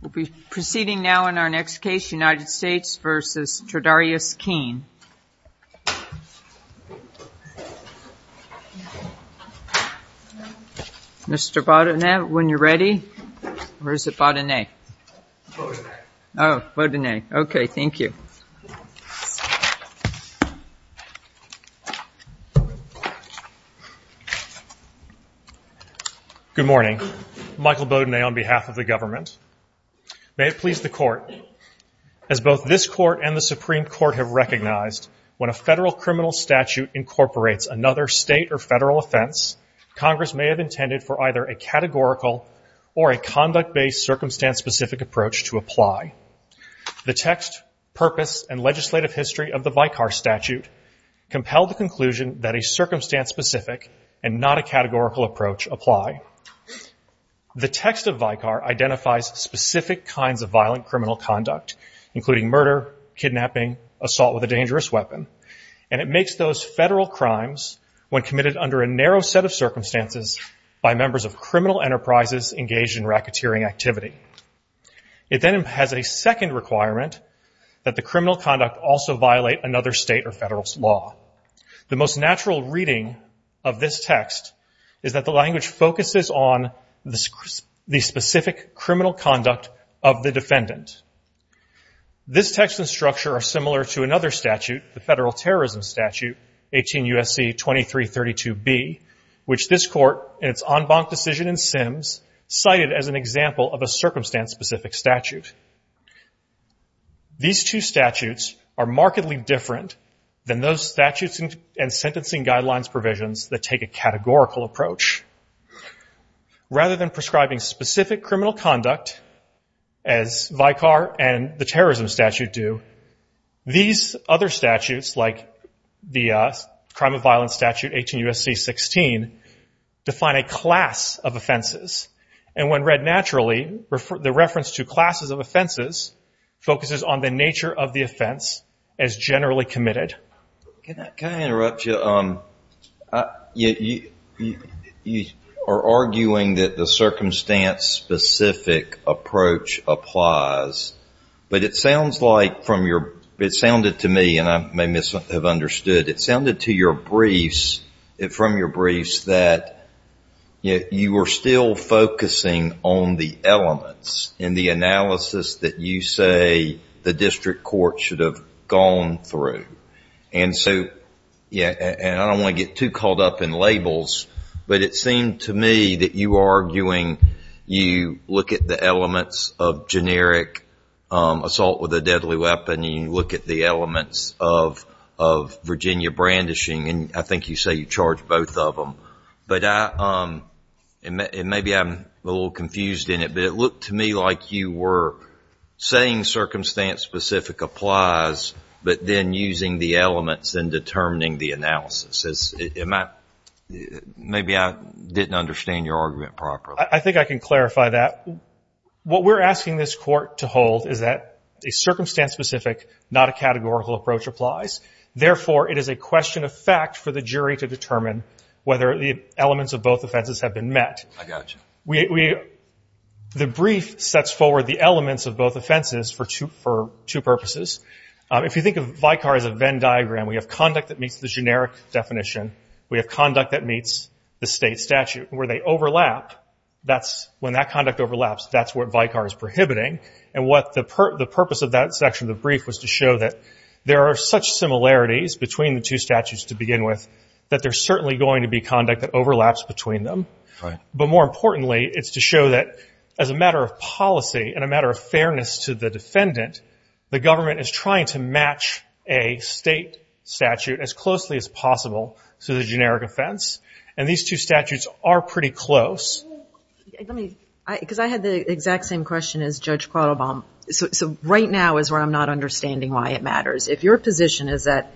We'll be proceeding now in our next case, United States v. Tredarius Keene. Mr. Baudinet, when you're ready. Or is it Baudinet? Oh, Baudinet. Okay, thank you. Good morning. Michael Baudinet on behalf of the government. May it please the court, as both this court and the Supreme Court have recognized, when a federal criminal statute incorporates another state or federal offense, Congress may have intended for either a categorical or a conduct-based, circumstance-specific approach to apply. The text, purpose, and legislative history of the VICAR statute compelled the conclusion that a circumstance-specific and not a categorical approach apply. The text of VICAR identifies specific kinds of violent criminal conduct, including murder, kidnapping, assault with a dangerous weapon, and it makes those federal crimes, when committed under a narrow set of circumstances by members of criminal enterprises engaged in racketeering activity. It then has a second requirement that the criminal conduct also violate another state or federal's law. The most natural reading of this text is that the language focuses on the specific criminal conduct of the defendant. This text and structure are similar to another statute, the federal terrorism statute, 18 U.S.C. 2332b, which this cited as an example of a circumstance-specific statute. These two statutes are markedly different than those statutes and sentencing guidelines provisions that take a categorical approach. Rather than prescribing specific criminal conduct, as VICAR and the terrorism statute do, these other statutes, like the crime of violence statute, 18 U.S.C. 16, define a class of offenses. And when read naturally, the reference to classes of offenses focuses on the nature of the offense as generally committed. Can I interrupt you? You are arguing that the circumstance-specific approach applies, but it sounds like from your, it sounded to me, and I may have misunderstood, it sounded to your briefs, that you were still focusing on the elements in the analysis that you say the district court should have gone through. And so, yeah, and I don't want to get too caught up in labels, but it seemed to me that you were arguing, you look at the elements of generic assault with a deadly weapon, you look at the elements of Virginia brandishing, and I think you say you charge both of them. And maybe I'm a little confused in it, but it looked to me like you were saying circumstance-specific applies, but then using the elements and determining the analysis. Maybe I didn't understand your argument properly. I think I can clarify that. What we're asking this Court to hold is that a circumstance-specific, not a categorical approach applies. Therefore, it is a question of fact for the jury to determine whether the elements of both offenses have been met. I got you. The brief sets forward the elements of both offenses for two purposes. If you think of VICAR as a Venn diagram, we have conduct that meets the generic definition. We have conduct that meets the state statute. Where they overlap, that's, when that conduct overlaps, that's what VICAR is to show that there are such similarities between the two statutes to begin with that there's certainly going to be conduct that overlaps between them. But more importantly, it's to show that as a matter of policy and a matter of fairness to the defendant, the government is trying to match a state statute as closely as possible to the generic offense. And these two statutes are pretty close. Let me, because I had the exact same question as Judge Quattlebaum. So right now is where I'm not understanding why it matters. If your position is that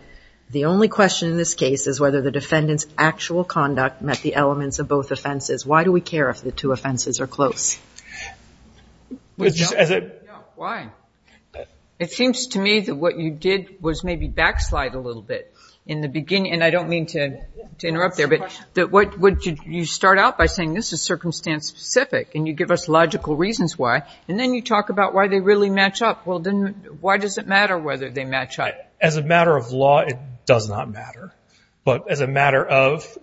the only question in this case is whether the defendant's actual conduct met the elements of both offenses, why do we care if the two offenses are close? Why? It seems to me that what you did was maybe backslide a little bit in the beginning. And I and you give us logical reasons why. And then you talk about why they really match up. Well, then why does it matter whether they match up? As a matter of law, it does not matter. But as a matter of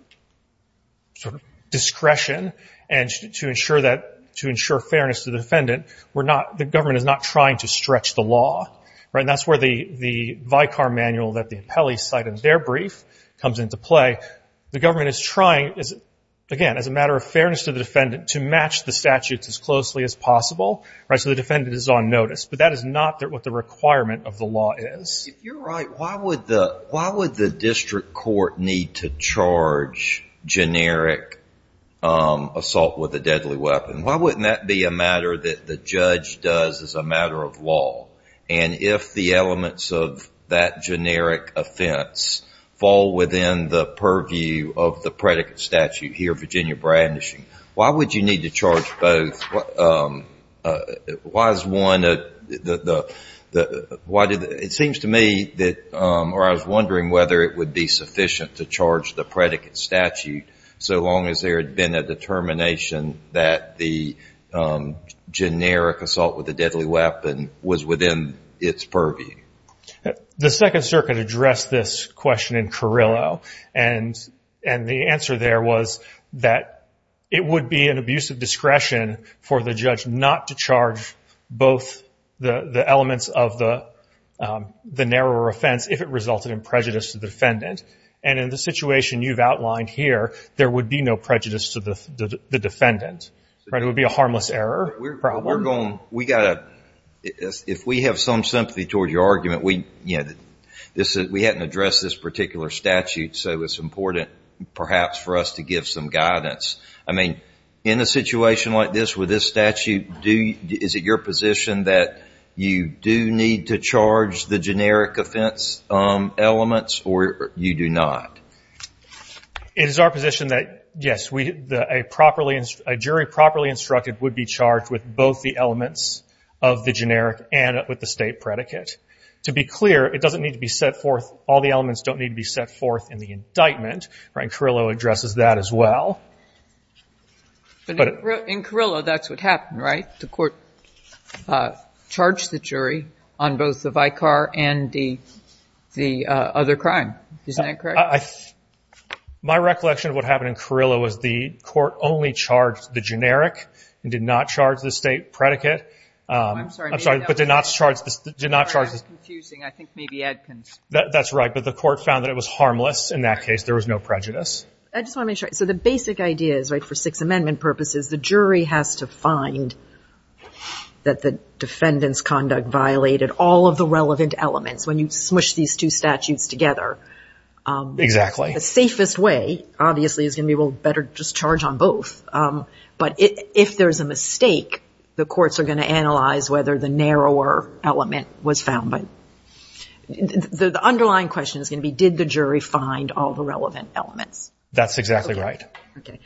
discretion and to ensure fairness to the defendant, we're not, the government is not trying to stretch the law. And that's where the VICAR manual that the appellees cite in their brief comes into play. The government is trying, again, as a matter of fairness to the defendant, to match the statutes as closely as possible so the defendant is on notice. But that is not what the requirement of the law is. If you're right, why would the district court need to charge generic assault with a deadly weapon? Why wouldn't that be a matter that the judge does as a matter of law? And if the elements of that generic offense fall within the purview of the predicate statute here, Virginia brandishing, why would you need to charge both? Why is one the, why did, it seems to me that, or I was wondering whether it would be sufficient to charge the predicate statute so long as there had been a determination that the generic assault with a deadly weapon was within its purview? The Second Circuit addressed this question in Carrillo, and the answer there was that it would be an abuse of discretion for the judge not to charge both the elements of the narrower offense if it resulted in prejudice to the defendant. And in the situation you've outlined here, there would be no prejudice to the defendant. It would be a harmless error. We're going, we got to, if we have some sympathy toward your argument, we, you know, we hadn't addressed this particular statute, so it's important perhaps for us to give some guidance. I mean, in a situation like this with this statute, is it your position that you do need to charge the generic offense elements or you do not? It is our position that, yes, we, a properly, a jury properly instructed would be charged with both the elements of the generic and with the state predicate. To be clear, it doesn't need to be set forth, all the elements don't need to be set forth in the indictment, and Carrillo addresses that as well. But in Carrillo, that's what happened, right? The court charged the jury on both the vicar and the other crime. Isn't that correct? My recollection of what happened in Carrillo was the court only charged the generic and did not charge the state predicate. I'm sorry, but did not charge, did not charge, that's right. But the court found that it was harmless. In that case, there was no prejudice. I just want to make sure, so the basic idea is, right, for Sixth Amendment purposes, the jury has to find that the defendant's conduct violated all of the relevant elements when you smush these two statutes together. Exactly. The safest way, obviously, is going to be, well, better just charge on both. But if there's a mistake, the courts are going to analyze whether the narrower element was found. But the underlying question is going to be, did the jury find all the relevant elements? That's exactly right. Okay.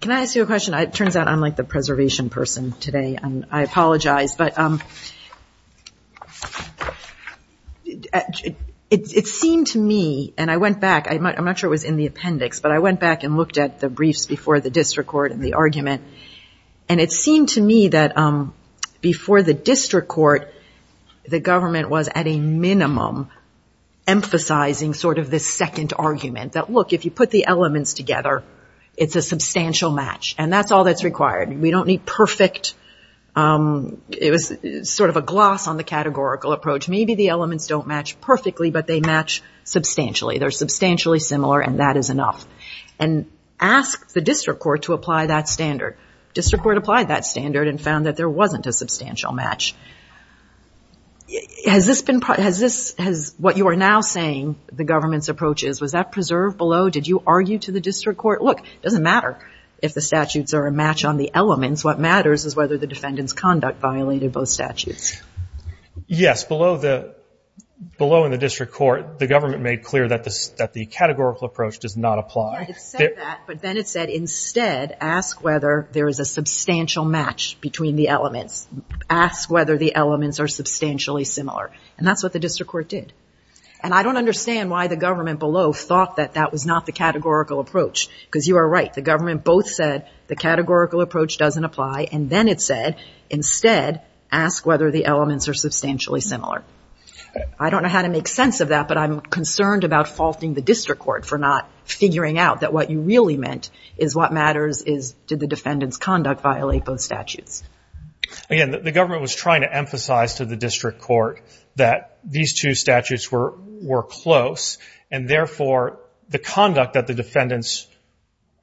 Can I ask you a question? It turns out I'm like the preservation person today. I apologize. But it seemed to me, and I went back, I'm not sure it was in the appendix, but I went back and looked at the briefs before the district court and the argument. And it seemed to me that before the district court, the government was at a minimum emphasizing sort of this second argument that, look, if you put the elements together, it's a substantial match. And that's all that's required. We don't need perfect. It was sort of a gloss on the categorical approach. Maybe the elements don't match perfectly, but they match substantially. They're substantially similar, and that is enough. And ask the district court to apply that standard. District court applied that standard and found that there wasn't a substantial match. Has this been, what you are now saying the government's is, was that preserved below? Did you argue to the district court? Look, it doesn't matter if the statutes are a match on the elements. What matters is whether the defendant's conduct violated both statutes. Yes. Below in the district court, the government made clear that the categorical approach does not apply. It said that, but then it said, instead, ask whether there is a substantial match between the elements. Ask whether the elements are substantially similar. And that's what the district court did. And I don't understand why the government below thought that that was not the categorical approach, because you are right. The government both said the categorical approach doesn't apply, and then it said, instead, ask whether the elements are substantially similar. I don't know how to make sense of that, but I'm concerned about faulting the district court for not figuring out that what you really meant is what matters is did the defendant's conduct violate both statutes. Again, the government was trying to emphasize to the district court that these two statutes were close, and therefore, the conduct that the defendants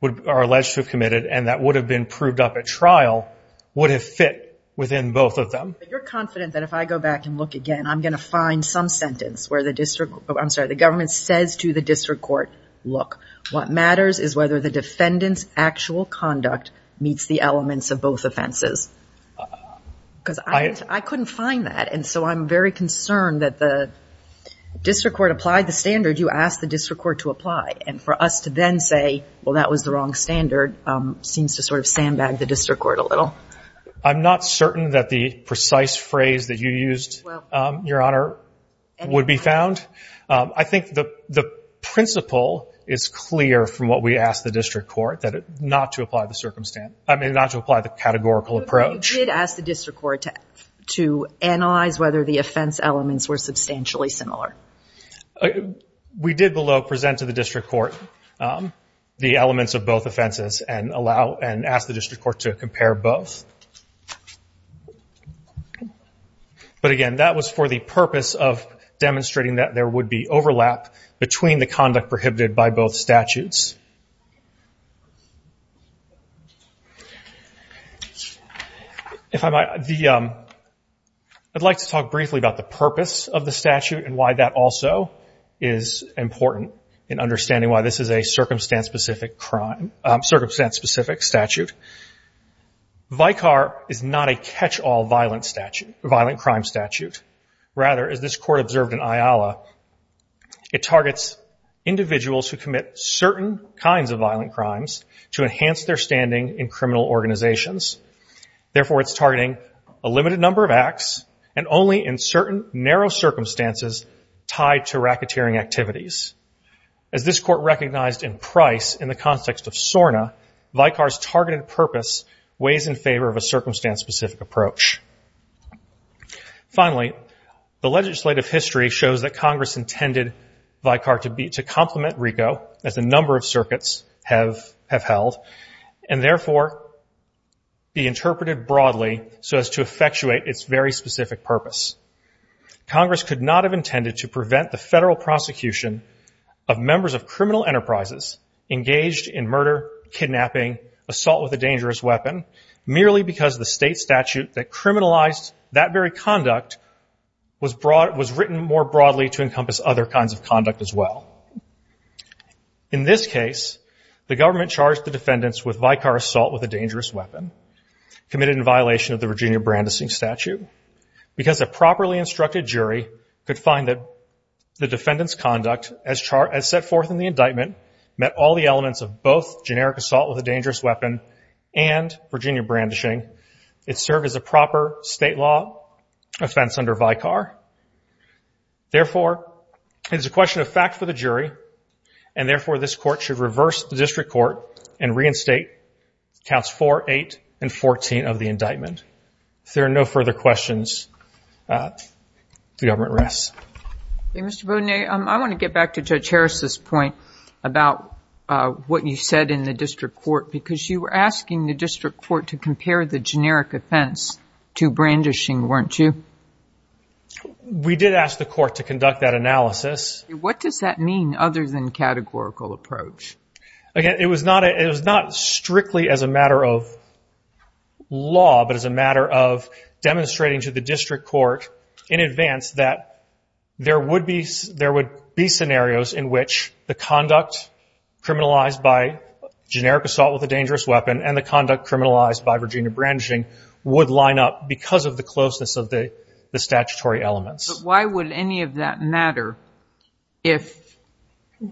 are alleged to have committed and that would have been proved up at trial would have fit within both of them. You're confident that if I go back and look again, I'm going to find some sentence where the district, I'm sorry, the government says to the district court, look, what matters is whether the defendant's actual conduct meets the elements of both offenses. Because I couldn't find that, and so I'm very concerned that the district court applied the standard you asked the district court to apply, and for us to then say, well, that was the wrong standard, seems to sort of sandbag the district court a little. I'm not certain that the precise phrase that you used, Your Honor, would be found. I think the principle is clear from what we asked the district court, that not to apply the circumstance, I mean, not to apply the categorical approach. You did ask the district court to analyze whether the offense elements were substantially similar. We did below present to the district court the elements of both offenses and allow and ask the district court to compare both. But again, that was for the purpose of demonstrating that there would be overlap between the conduct prohibited by both statutes. If I might, I'd like to talk briefly about the purpose of the statute and why that also is important in understanding why this is a circumstance-specific statute. VICAR is not a catch-all violent crime statute. Rather, as this court observed in IALA, it targets individuals who commit certain kinds of violent crimes to enhance their standing in the state. Therefore, it's targeting a limited number of acts and only in certain narrow circumstances tied to racketeering activities. As this court recognized in Price in the context of SORNA, VICAR's targeted purpose weighs in favor of a circumstance-specific approach. Finally, the legislative history shows that Congress intended VICAR to complement RICO, as a number of circuits have held, and therefore be interpreted broadly so as to effectuate its very specific purpose. Congress could not have intended to prevent the federal prosecution of members of criminal enterprises engaged in murder, kidnapping, assault with a dangerous weapon, merely because the state statute that criminalized that very conduct was written more broadly to encompass other kinds of conduct as well. In this case, the government charged the defendants with VICAR assault with a dangerous weapon, committed in violation of the Virginia Brandishing statute. Because a properly instructed jury could find that the defendant's conduct, as set forth in the indictment, met all the elements of both generic assault with a dangerous weapon and Virginia Brandishing, it served as a proper state law offense under VICAR. Therefore, it is a question of fact for the jury, and therefore this court should reverse the district court and reinstate counts 4, 8, and 14 of the indictment. If there are no further questions, the government rests. Mr. Boudinet, I want to get back to Judge Harris's point about what you said in the district court, because you were asking the district court to compare the generic offense to brandishing, weren't you? We did ask the court to conduct that analysis. What does that mean other than categorical approach? Again, it was not strictly as a matter of law, but as a matter of demonstrating to the district court in advance that there would be scenarios in which the conduct criminalized by Virginia Brandishing would line up because of the closeness of the statutory elements. But why would any of that matter if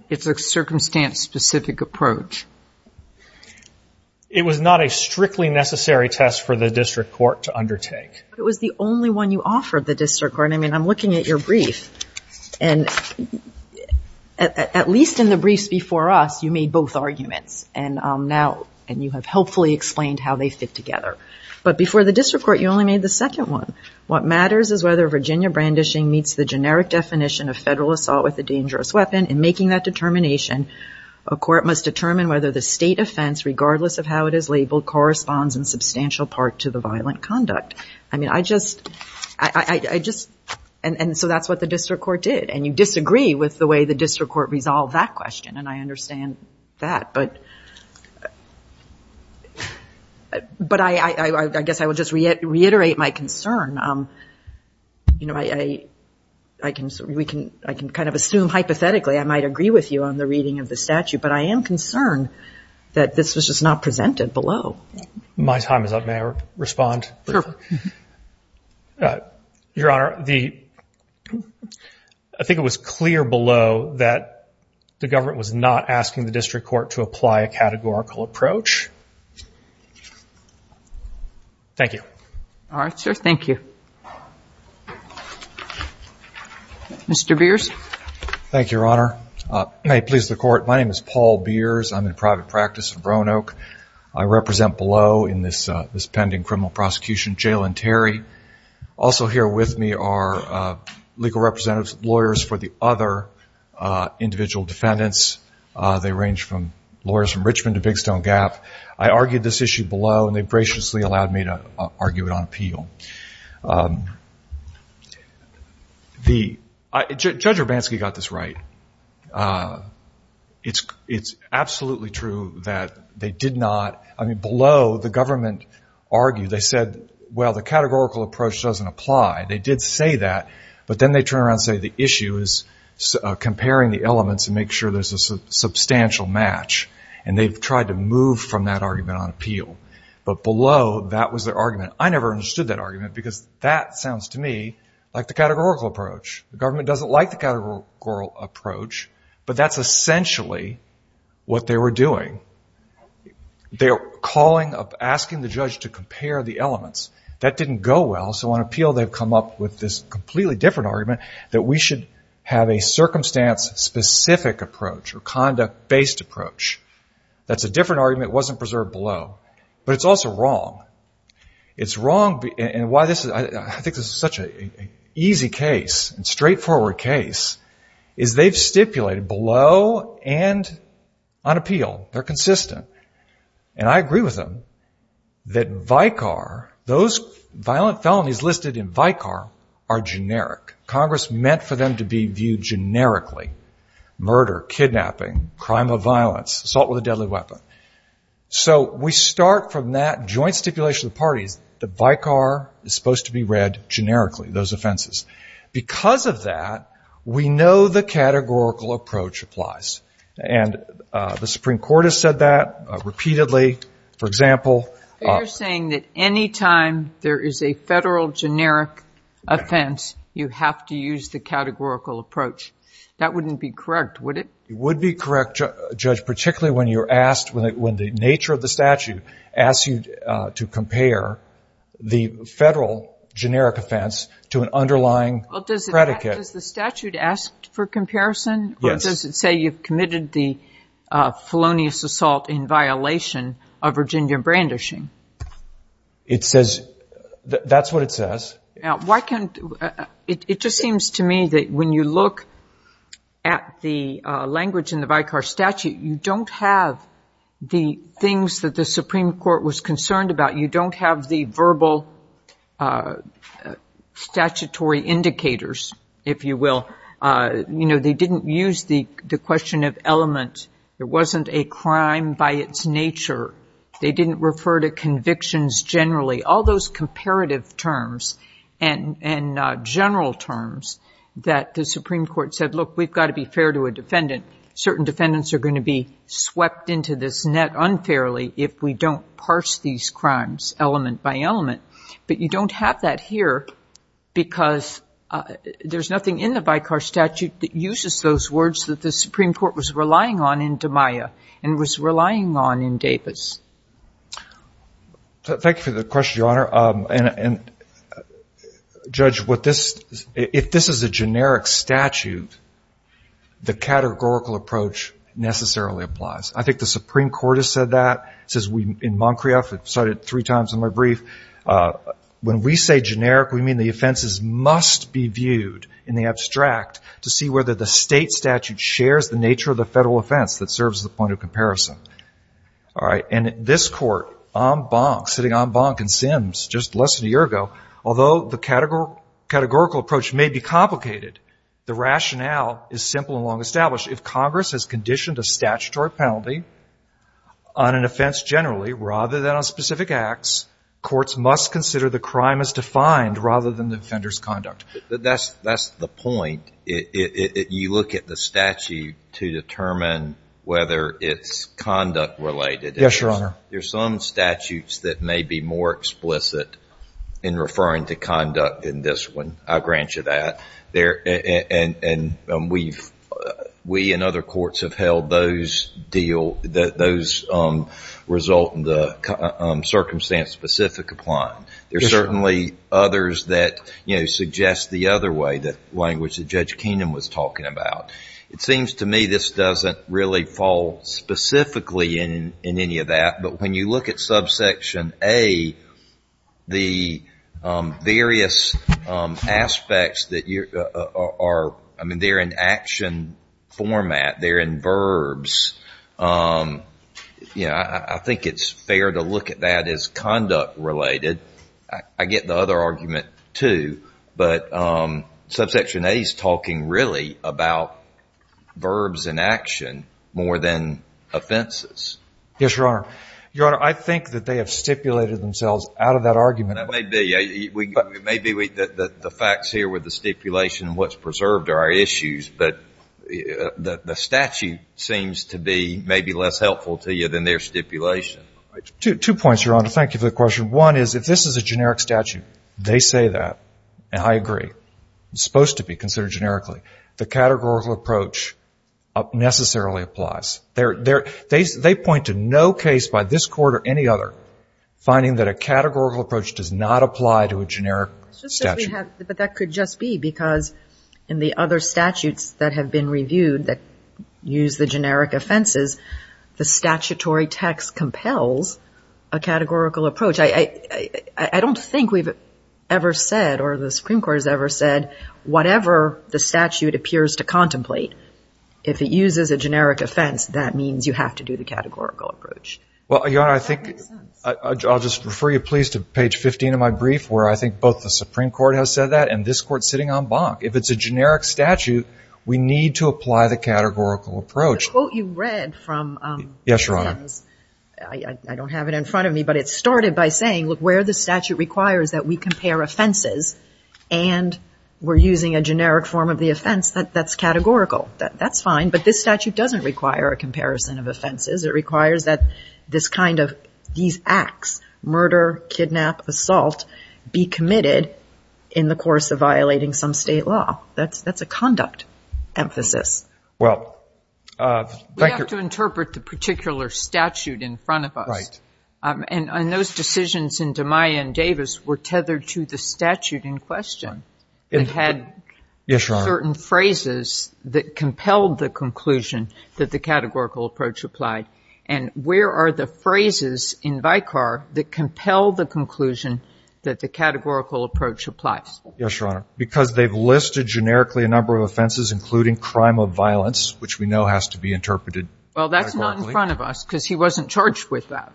it's a circumstance-specific approach? It was not a strictly necessary test for the district court to undertake. It was the only one you offered the district court. I mean, I'm looking at your brief, and at least in the briefs before us, you made both arguments, and you have helpfully explained how they fit together. But before the district court, you only made the second one. What matters is whether Virginia Brandishing meets the generic definition of federal assault with a dangerous weapon. In making that determination, a court must determine whether the state offense, regardless of how it is labeled, corresponds in substantial part to the violent conduct. I mean, I just, and so that's what the district court did. And you disagree with the way the district court resolved that question, and I understand that. But I guess I will just reiterate my concern. You know, I can kind of assume hypothetically I might agree with you on the reading of the statute, but I am concerned that this was just not presented below. My time is up. May I respond? Your Honor, I think it was clear below that the government was not asking the district court to apply a categorical approach. Thank you. All right, sir. Thank you. Mr. Beers. Thank you, Your Honor. May it please the court. My name is Paul Beers. I'm in private practice in Roanoke. I represent below in this pending criminal prosecution, Jail and Terry. Also here with me are legal representatives, lawyers for the other individual defendants. They range from lawyers from Richmond to Big Stone Gap. I argued this issue below, and they graciously allowed me to argue it on appeal. Judge Urbanski got this right. It's absolutely true that they did not, I mean, below the government argued, they said, well, the categorical approach doesn't apply. They did say that, but then they turn around and say the issue is comparing the elements and make sure there's a substantial match. And they've tried to move from that argument on appeal. But below that was their argument. I never understood that argument because that sounds to me like the categorical approach. The government doesn't like the categorical approach, but that's essentially what they were doing. They're calling, asking the judge to compare the elements. That didn't go well, so on appeal they've come up with this completely different argument that we should have a circumstance-specific approach or conduct-based approach. That's a different argument. It wasn't preserved below. But it's also wrong. It's wrong, and why this is, I think this is such an easy case and straightforward case, is they've stipulated below and on appeal. They're consistent. And I agree with them that Vicar, those violent felonies listed in Vicar are generic. Congress meant for them to be viewed generically. Murder, kidnapping, crime of violence, assault with a deadly weapon. So we start from that joint stipulation of the parties that Vicar is supposed to be read generically, those offenses. Because of that, we know the categorical approach applies. And the Supreme Court has said that repeatedly, for example. But you're saying that any time there is a federal generic offense, you have to use the categorical approach. That wouldn't be correct, would it? It would be correct, Judge, particularly when you're asked, when the nature of the statute asks you to compare the federal generic offense to an underlying predicate. Does the statute ask for comparison? Yes. You've committed the felonious assault in violation of Virginia brandishing. That's what it says. It just seems to me that when you look at the language in the Vicar statute, you don't have the things that the Supreme Court was concerned about. You don't have the verbal statutory indicators, if you will. They didn't use the question of element. It wasn't a crime by its nature. They didn't refer to convictions generally. All those comparative terms and general terms that the Supreme Court said, look, we've got to be fair to a defendant. Certain defendants are going to be swept into this net unfairly if we don't parse these crimes element by element. But you don't have that here because there's nothing in the Vicar statute that uses those words that the Supreme Court was relying on in DiMaia and was relying on in Davis. Thank you for the question, Your Honor. Judge, if this is a generic statute, the categorical approach necessarily applies. I think the Supreme Court has said that. It says in Moncrieff, it cited three times in my brief, when we say generic, we mean the offenses must be viewed in the abstract to see whether the state statute shares the nature of the federal offense that serves the point of comparison. All right. And this Court, sitting en banc in Sims just less than a year ago, although the categorical approach may be complicated, the rationale is simple and long established. If Congress has conditioned a statutory penalty on an offense generally rather than on specific acts, courts must consider the crime as defined rather than the offender's conduct. That's the point. You look at the statute to determine whether it's conduct-related. Yes, Your Honor. There's some statutes that may be more explicit in referring to conduct in this one. I'll grant you that. We and other courts have held those result in the circumstance-specific applying. There are certainly others that suggest the other way, the language that Judge Keenan was talking about. It seems to me this doesn't really fall specifically in any of that, but when you look at subsection A, the various aspects, they're in action format, they're in verbs. I think it's fair to look at that as conduct-related. I get the other argument too, but subsection A is talking really about verbs in action more than offenses. Yes, Your Honor. Your Honor, I think that they have stipulated themselves out of that argument. That may be. Maybe the facts here with the stipulation and what's preserved are our issues, but the statute seems to be maybe less helpful to you than their stipulation. Two points, Your Honor. Thank you for the question. One is if this is a generic statute, they say that, and I agree. It's supposed to be considered generically. The categorical approach necessarily applies. They point to no case by this Court or any other finding that a categorical approach does not apply to a generic statute. But that could just be because in the other statutes that have been reviewed that use the generic offenses, the statutory text compels a categorical approach. I don't think we've ever said or the Supreme Court has ever said whatever the statute appears to contemplate, if it uses a generic offense, that means you have to do the categorical approach. Well, Your Honor, I think I'll just refer you, please, to page 15 of my brief where I think both the Supreme Court has said that and this Court's sitting en banc. If it's a generic statute, we need to apply the categorical approach. The quote you read from— Yes, Your Honor. I don't have it in front of me, but it started by saying, look, where the statute requires that we compare offenses and we're using a generic form of the offense, that's categorical. That's fine. But this statute doesn't require a comparison of offenses. It requires that this kind of—these acts—murder, kidnap, assault—be committed in the course of violating some state law. That's a conduct emphasis. We have to interpret the particular statute in front of us, and those decisions in DeMaio and Davis were tethered to the statute in question. It had certain phrases that compelled the conclusion that the categorical approach applied, and where are the phrases in Vicar that compel the conclusion that the categorical approach applies? Yes, Your Honor, because they've listed generically a number of offenses, including crime of violence, which we know has to be interpreted categorically. It's not in front of us because he wasn't charged with that.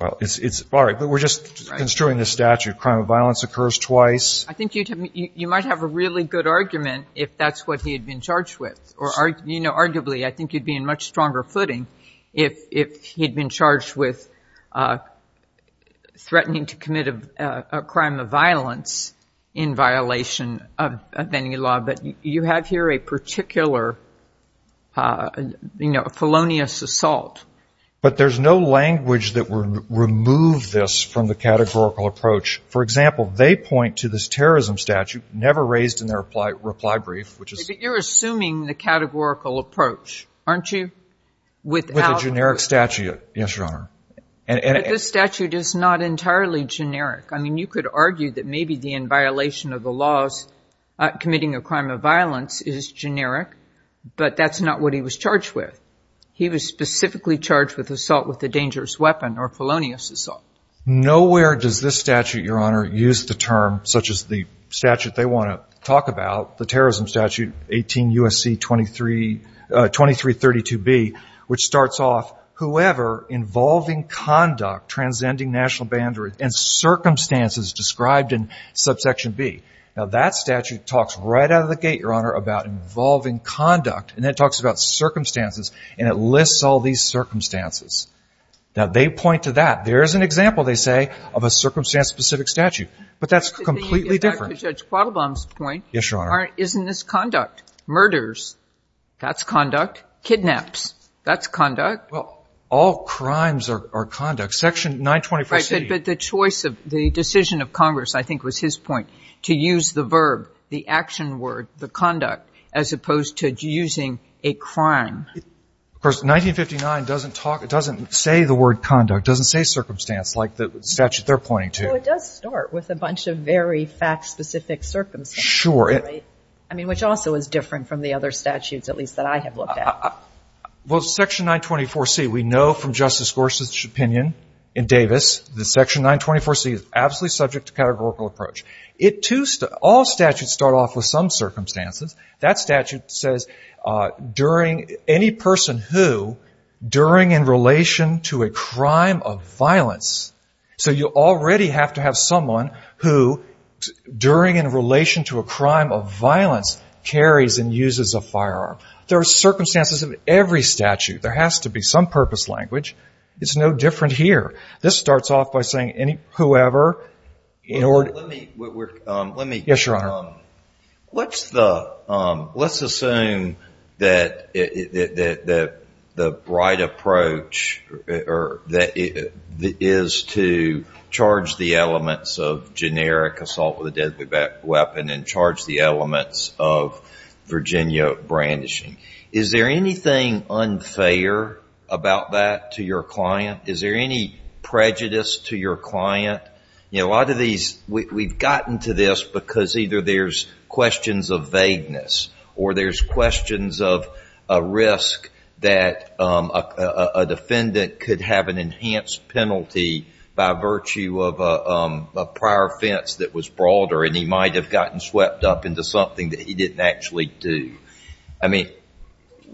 Well, it's—all right, but we're just construing the statute. Crime of violence occurs twice. I think you might have a really good argument if that's what he had been charged with, or arguably I think you'd be in much stronger footing if he'd been charged with threatening to commit a crime of violence in violation of any law. But you have here a particular felonious assault. But there's no language that would remove this from the categorical approach. For example, they point to this terrorism statute never raised in their reply brief, which is— You're assuming the categorical approach, aren't you? With a generic statute, yes, Your Honor. But this statute is not entirely generic. I mean, you could argue that maybe the in-violation of laws committing a crime of violence is generic, but that's not what he was charged with. He was specifically charged with assault with a dangerous weapon or felonious assault. Nowhere does this statute, Your Honor, use the term, such as the statute they want to talk about, the terrorism statute 18 U.S.C. 2332b, which starts off, whoever involving conduct transcending national boundaries and circumstances described in subsection b. Now, that statute talks right out of the gate, Your Honor, about involving conduct, and then it talks about circumstances, and it lists all these circumstances. Now, they point to that. There is an example, they say, of a circumstance-specific statute. But that's completely different. To Judge Quattlebaum's point— Yes, Your Honor. —isn't this conduct? Murders, that's conduct. Kidnaps, that's conduct. Well, all crimes are conduct. Section 924c— Right. But the choice of — the decision of Congress, I think, was his point, to use the verb, the action word, the conduct, as opposed to using a crime. Of course, 1959 doesn't talk — doesn't say the word conduct, doesn't say circumstance like the statute they're pointing to. Well, it does start with a bunch of very fact-specific circumstances. Sure. I mean, which also is different from the other statutes, at least that I have looked at. Well, Section 924c, we know from Justice Gorsuch's opinion in Davis that Section 924c is absolutely subject to categorical approach. It too — all statutes start off with some circumstances. That statute says, during any person who, during in relation to a crime of violence. So you already have to have someone who, during in relation to a crime of violence, carries and uses a firearm. There are circumstances of every statute. There has to be some purpose language. It's no different here. This starts off by saying any — whoever, in order — Let me — let me — Yes, Your Honor. Let's assume that the right approach is to charge the elements of generic assault with a deadly weapon and charge the elements of Virginia brandishing. Is there anything unfair about that to your client? Is there any prejudice to your client? A lot of these — we've gotten to this because either there's questions of vagueness or there's questions of a risk that a defendant could have an enhanced penalty by virtue of a prior offense that was broader and he might have gotten swept up into something that he didn't actually do. I mean,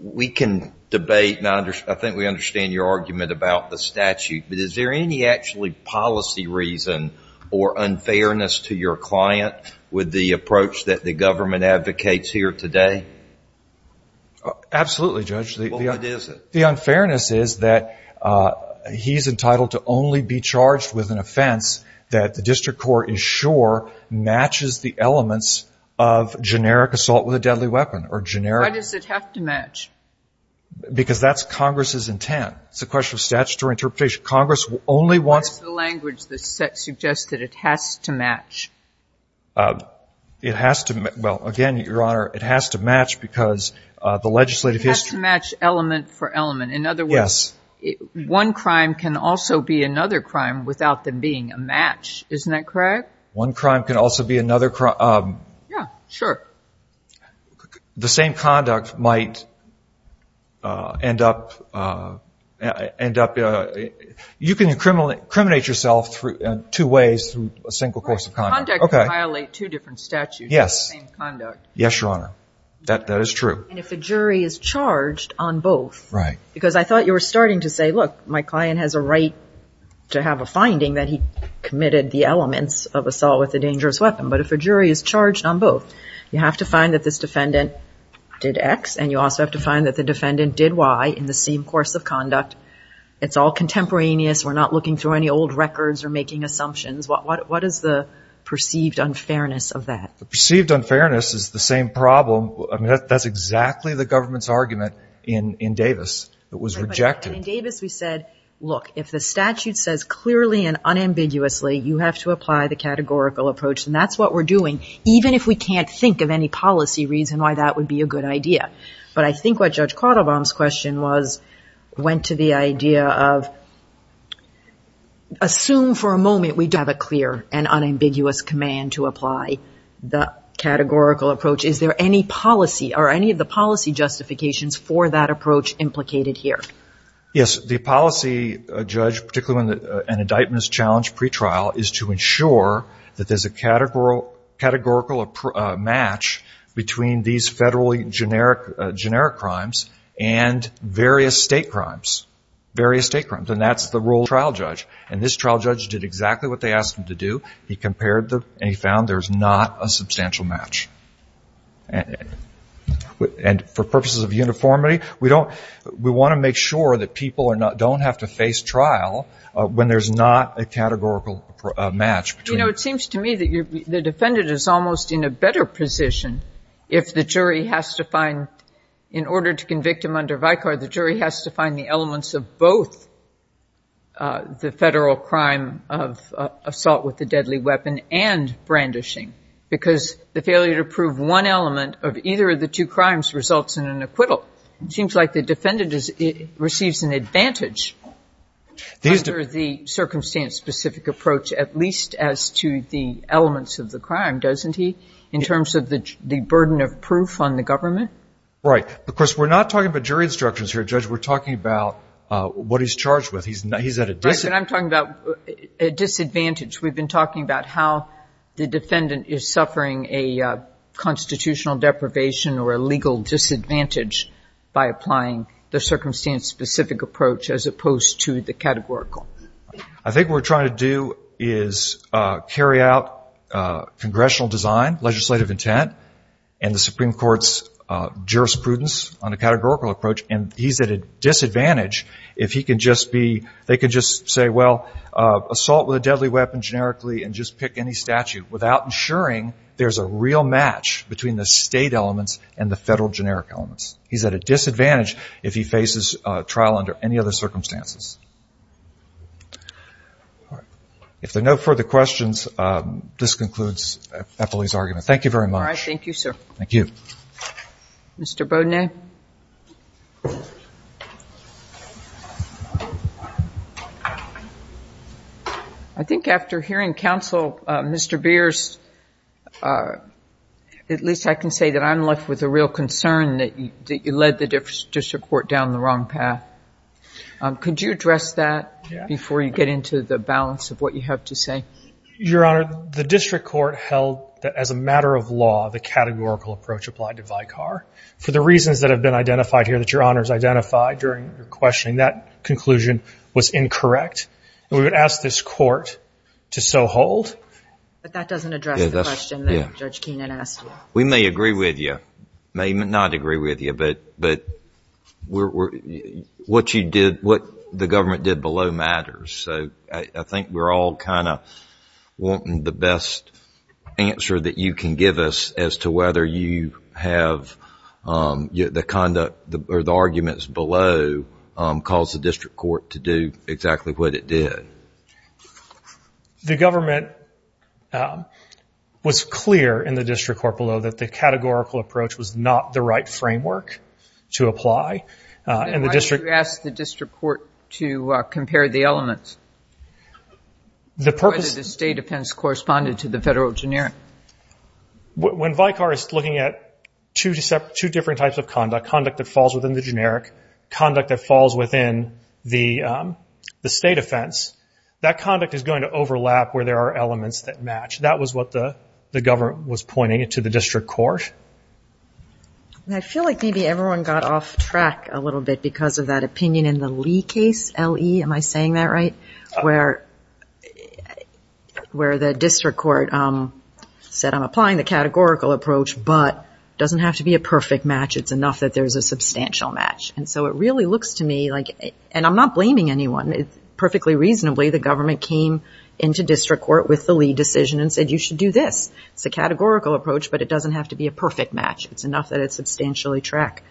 we can debate and I think we understand your argument about the statute, but is there any actually policy reason or unfairness to your client with the approach that the government advocates here today? Absolutely, Judge. Well, what is it? The unfairness is that he's entitled to only be charged with an offense that the district court is sure matches the elements of generic assault with a deadly weapon or generic — Why does it have to match? Because that's Congress's intent. It's a question of statutory interpretation. Congress only wants — What is the language that suggests that it has to match? It has to — well, again, Your Honor, it has to match because the legislative history — In other words, one crime can also be another crime without them being a match. Isn't that correct? One crime can also be another crime — Yeah, sure. The same conduct might end up — you can incriminate yourself two ways through a single course of conduct. Conduct can violate two different statutes. Yes. Same conduct. Yes, Your Honor. That is true. And if the jury is charged on both. Because I thought you were starting to say, look, my client has a right to have a finding that he committed the elements of assault with a dangerous weapon. But if a jury is charged on both, you have to find that this defendant did X and you also have to find that the defendant did Y in the same course of conduct. It's all contemporaneous. We're not looking through any old records or making assumptions. What is the perceived unfairness of that? The perceived unfairness is the same problem. That's exactly the government's argument in Davis. It was rejected. But in Davis, we said, look, if the statute says clearly and unambiguously, you have to apply the categorical approach. And that's what we're doing, even if we can't think of any policy reason why that would be a good idea. But I think what Judge Quattlebaum's question was, went to the idea of, assume for a moment we have a clear and unambiguous command to apply the categorical approach. Is there any policy, are any of the policy justifications for that approach implicated here? Yes, the policy, Judge, particularly when an indictment is challenged pre-trial, is to ensure that there's a categorical match between these federally generic crimes and various state crimes, various state crimes. And that's the role of the trial judge. And this trial judge did exactly what they asked him to do. He compared them, and he found there's not a substantial match. And for purposes of uniformity, we want to make sure that people don't have to face trial when there's not a categorical match. You know, it seems to me that the defendant is almost in a better position if the jury has to find, in order to convict him under Vicar, the jury has to find the elements of both the federal crime of assault with a deadly weapon and brandishing, because the failure to prove one element of either of the two crimes results in an acquittal. It seems like the defendant receives an advantage under the circumstance-specific approach, at least as to the elements of the crime, doesn't he, in terms of the burden of proof on the government? Right. Of course, we're not talking about jury instructions here, Judge. We're talking about what he's charged with. He's at a disadvantage. Right, but I'm talking about a disadvantage. We've been talking about how the defendant is suffering a constitutional deprivation or a legal disadvantage by applying the circumstance-specific approach as opposed to the categorical. I think what we're trying to do is carry out congressional design, legislative intent, and the Supreme Court's jurisprudence on a categorical approach, and he's at a disadvantage if he can just be, they can just say, well, assault with a deadly weapon generically, and just pick any statute, without ensuring there's a real match between the state elements and the federal generic elements. He's at a disadvantage if he faces trial under any other circumstances. All right. If there are no further questions, this concludes Eppley's argument. Thank you very much. All right. Thank you, sir. Thank you. Mr. Beaudenay? I think after hearing counsel, Mr. Beers, at least I can say that I'm left with a real concern that you led the district court down the wrong path. Could you address that before you get into the balance of what you have to say? Your Honor, the district court held that as a matter of law, the categorical approach applied to Vicar. For the reasons that have been identified here that Your Honor has identified during your questioning, that conclusion was incorrect, and we would ask this court to so hold. But that doesn't address the question that Judge Keenan asked you. We may agree with you, may not agree with you, but what you did, what the government did below matters. So I think we're all kind of wanting the best answer that you can give us as to whether you have the conduct or the arguments below caused the district court to do exactly what it did. The government was clear in the district court below that the categorical approach was not the right framework to apply. And the district... The purpose... The state offense corresponded to the federal generic. When Vicar is looking at two different types of conduct, conduct that falls within the generic, conduct that falls within the state offense, that conduct is going to overlap where there are elements that match. That was what the government was pointing to the district court. I feel like maybe everyone got off track a little bit because of that opinion in the Lee case, L-E, am I saying that right? Where the district court said, I'm applying the categorical approach, but it doesn't have to be a perfect match. It's enough that there's a substantial match. And so it really looks to me like... And I'm not blaming anyone. Perfectly reasonably, the government came into district court with the Lee decision and said, you should do this. It's a categorical approach, but it doesn't have to be a perfect match. It's enough that it substantially track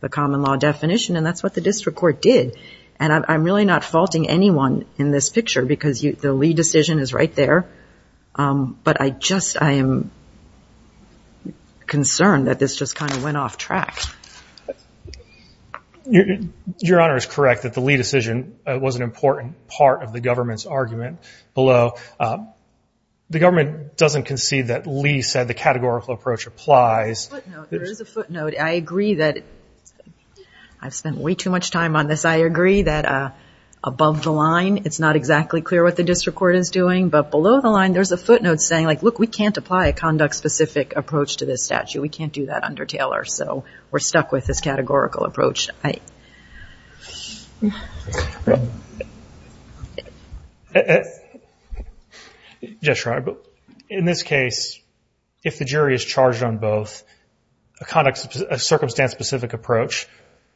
the common law definition. And that's what the district court did. And I'm really not faulting anyone in this picture because the Lee decision is right there. But I just, I am concerned that this just kind of went off track. Your Honor is correct that the Lee decision was an important part of the government's argument below. The government doesn't concede that Lee said the categorical approach applies. There is a footnote. I agree that I've spent way too much time on this. I agree that above the line, it's not exactly clear what the district court is doing, but below the line, there's a footnote saying like, look, we can't apply a conduct specific approach to this statute. We can't do that under Taylor. So we're stuck with this categorical approach. Judge Schreiber, in this case, if the jury is charged on both, a conduct, a circumstance specific approach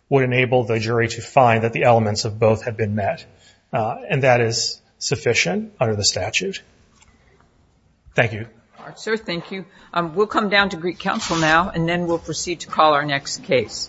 would enable the jury to find that the elements of both have been met. And that is sufficient under the statute. Thank you. All right, sir. Thank you. We'll come down to Greek Council now, and then we'll proceed to call our next case. Thank you.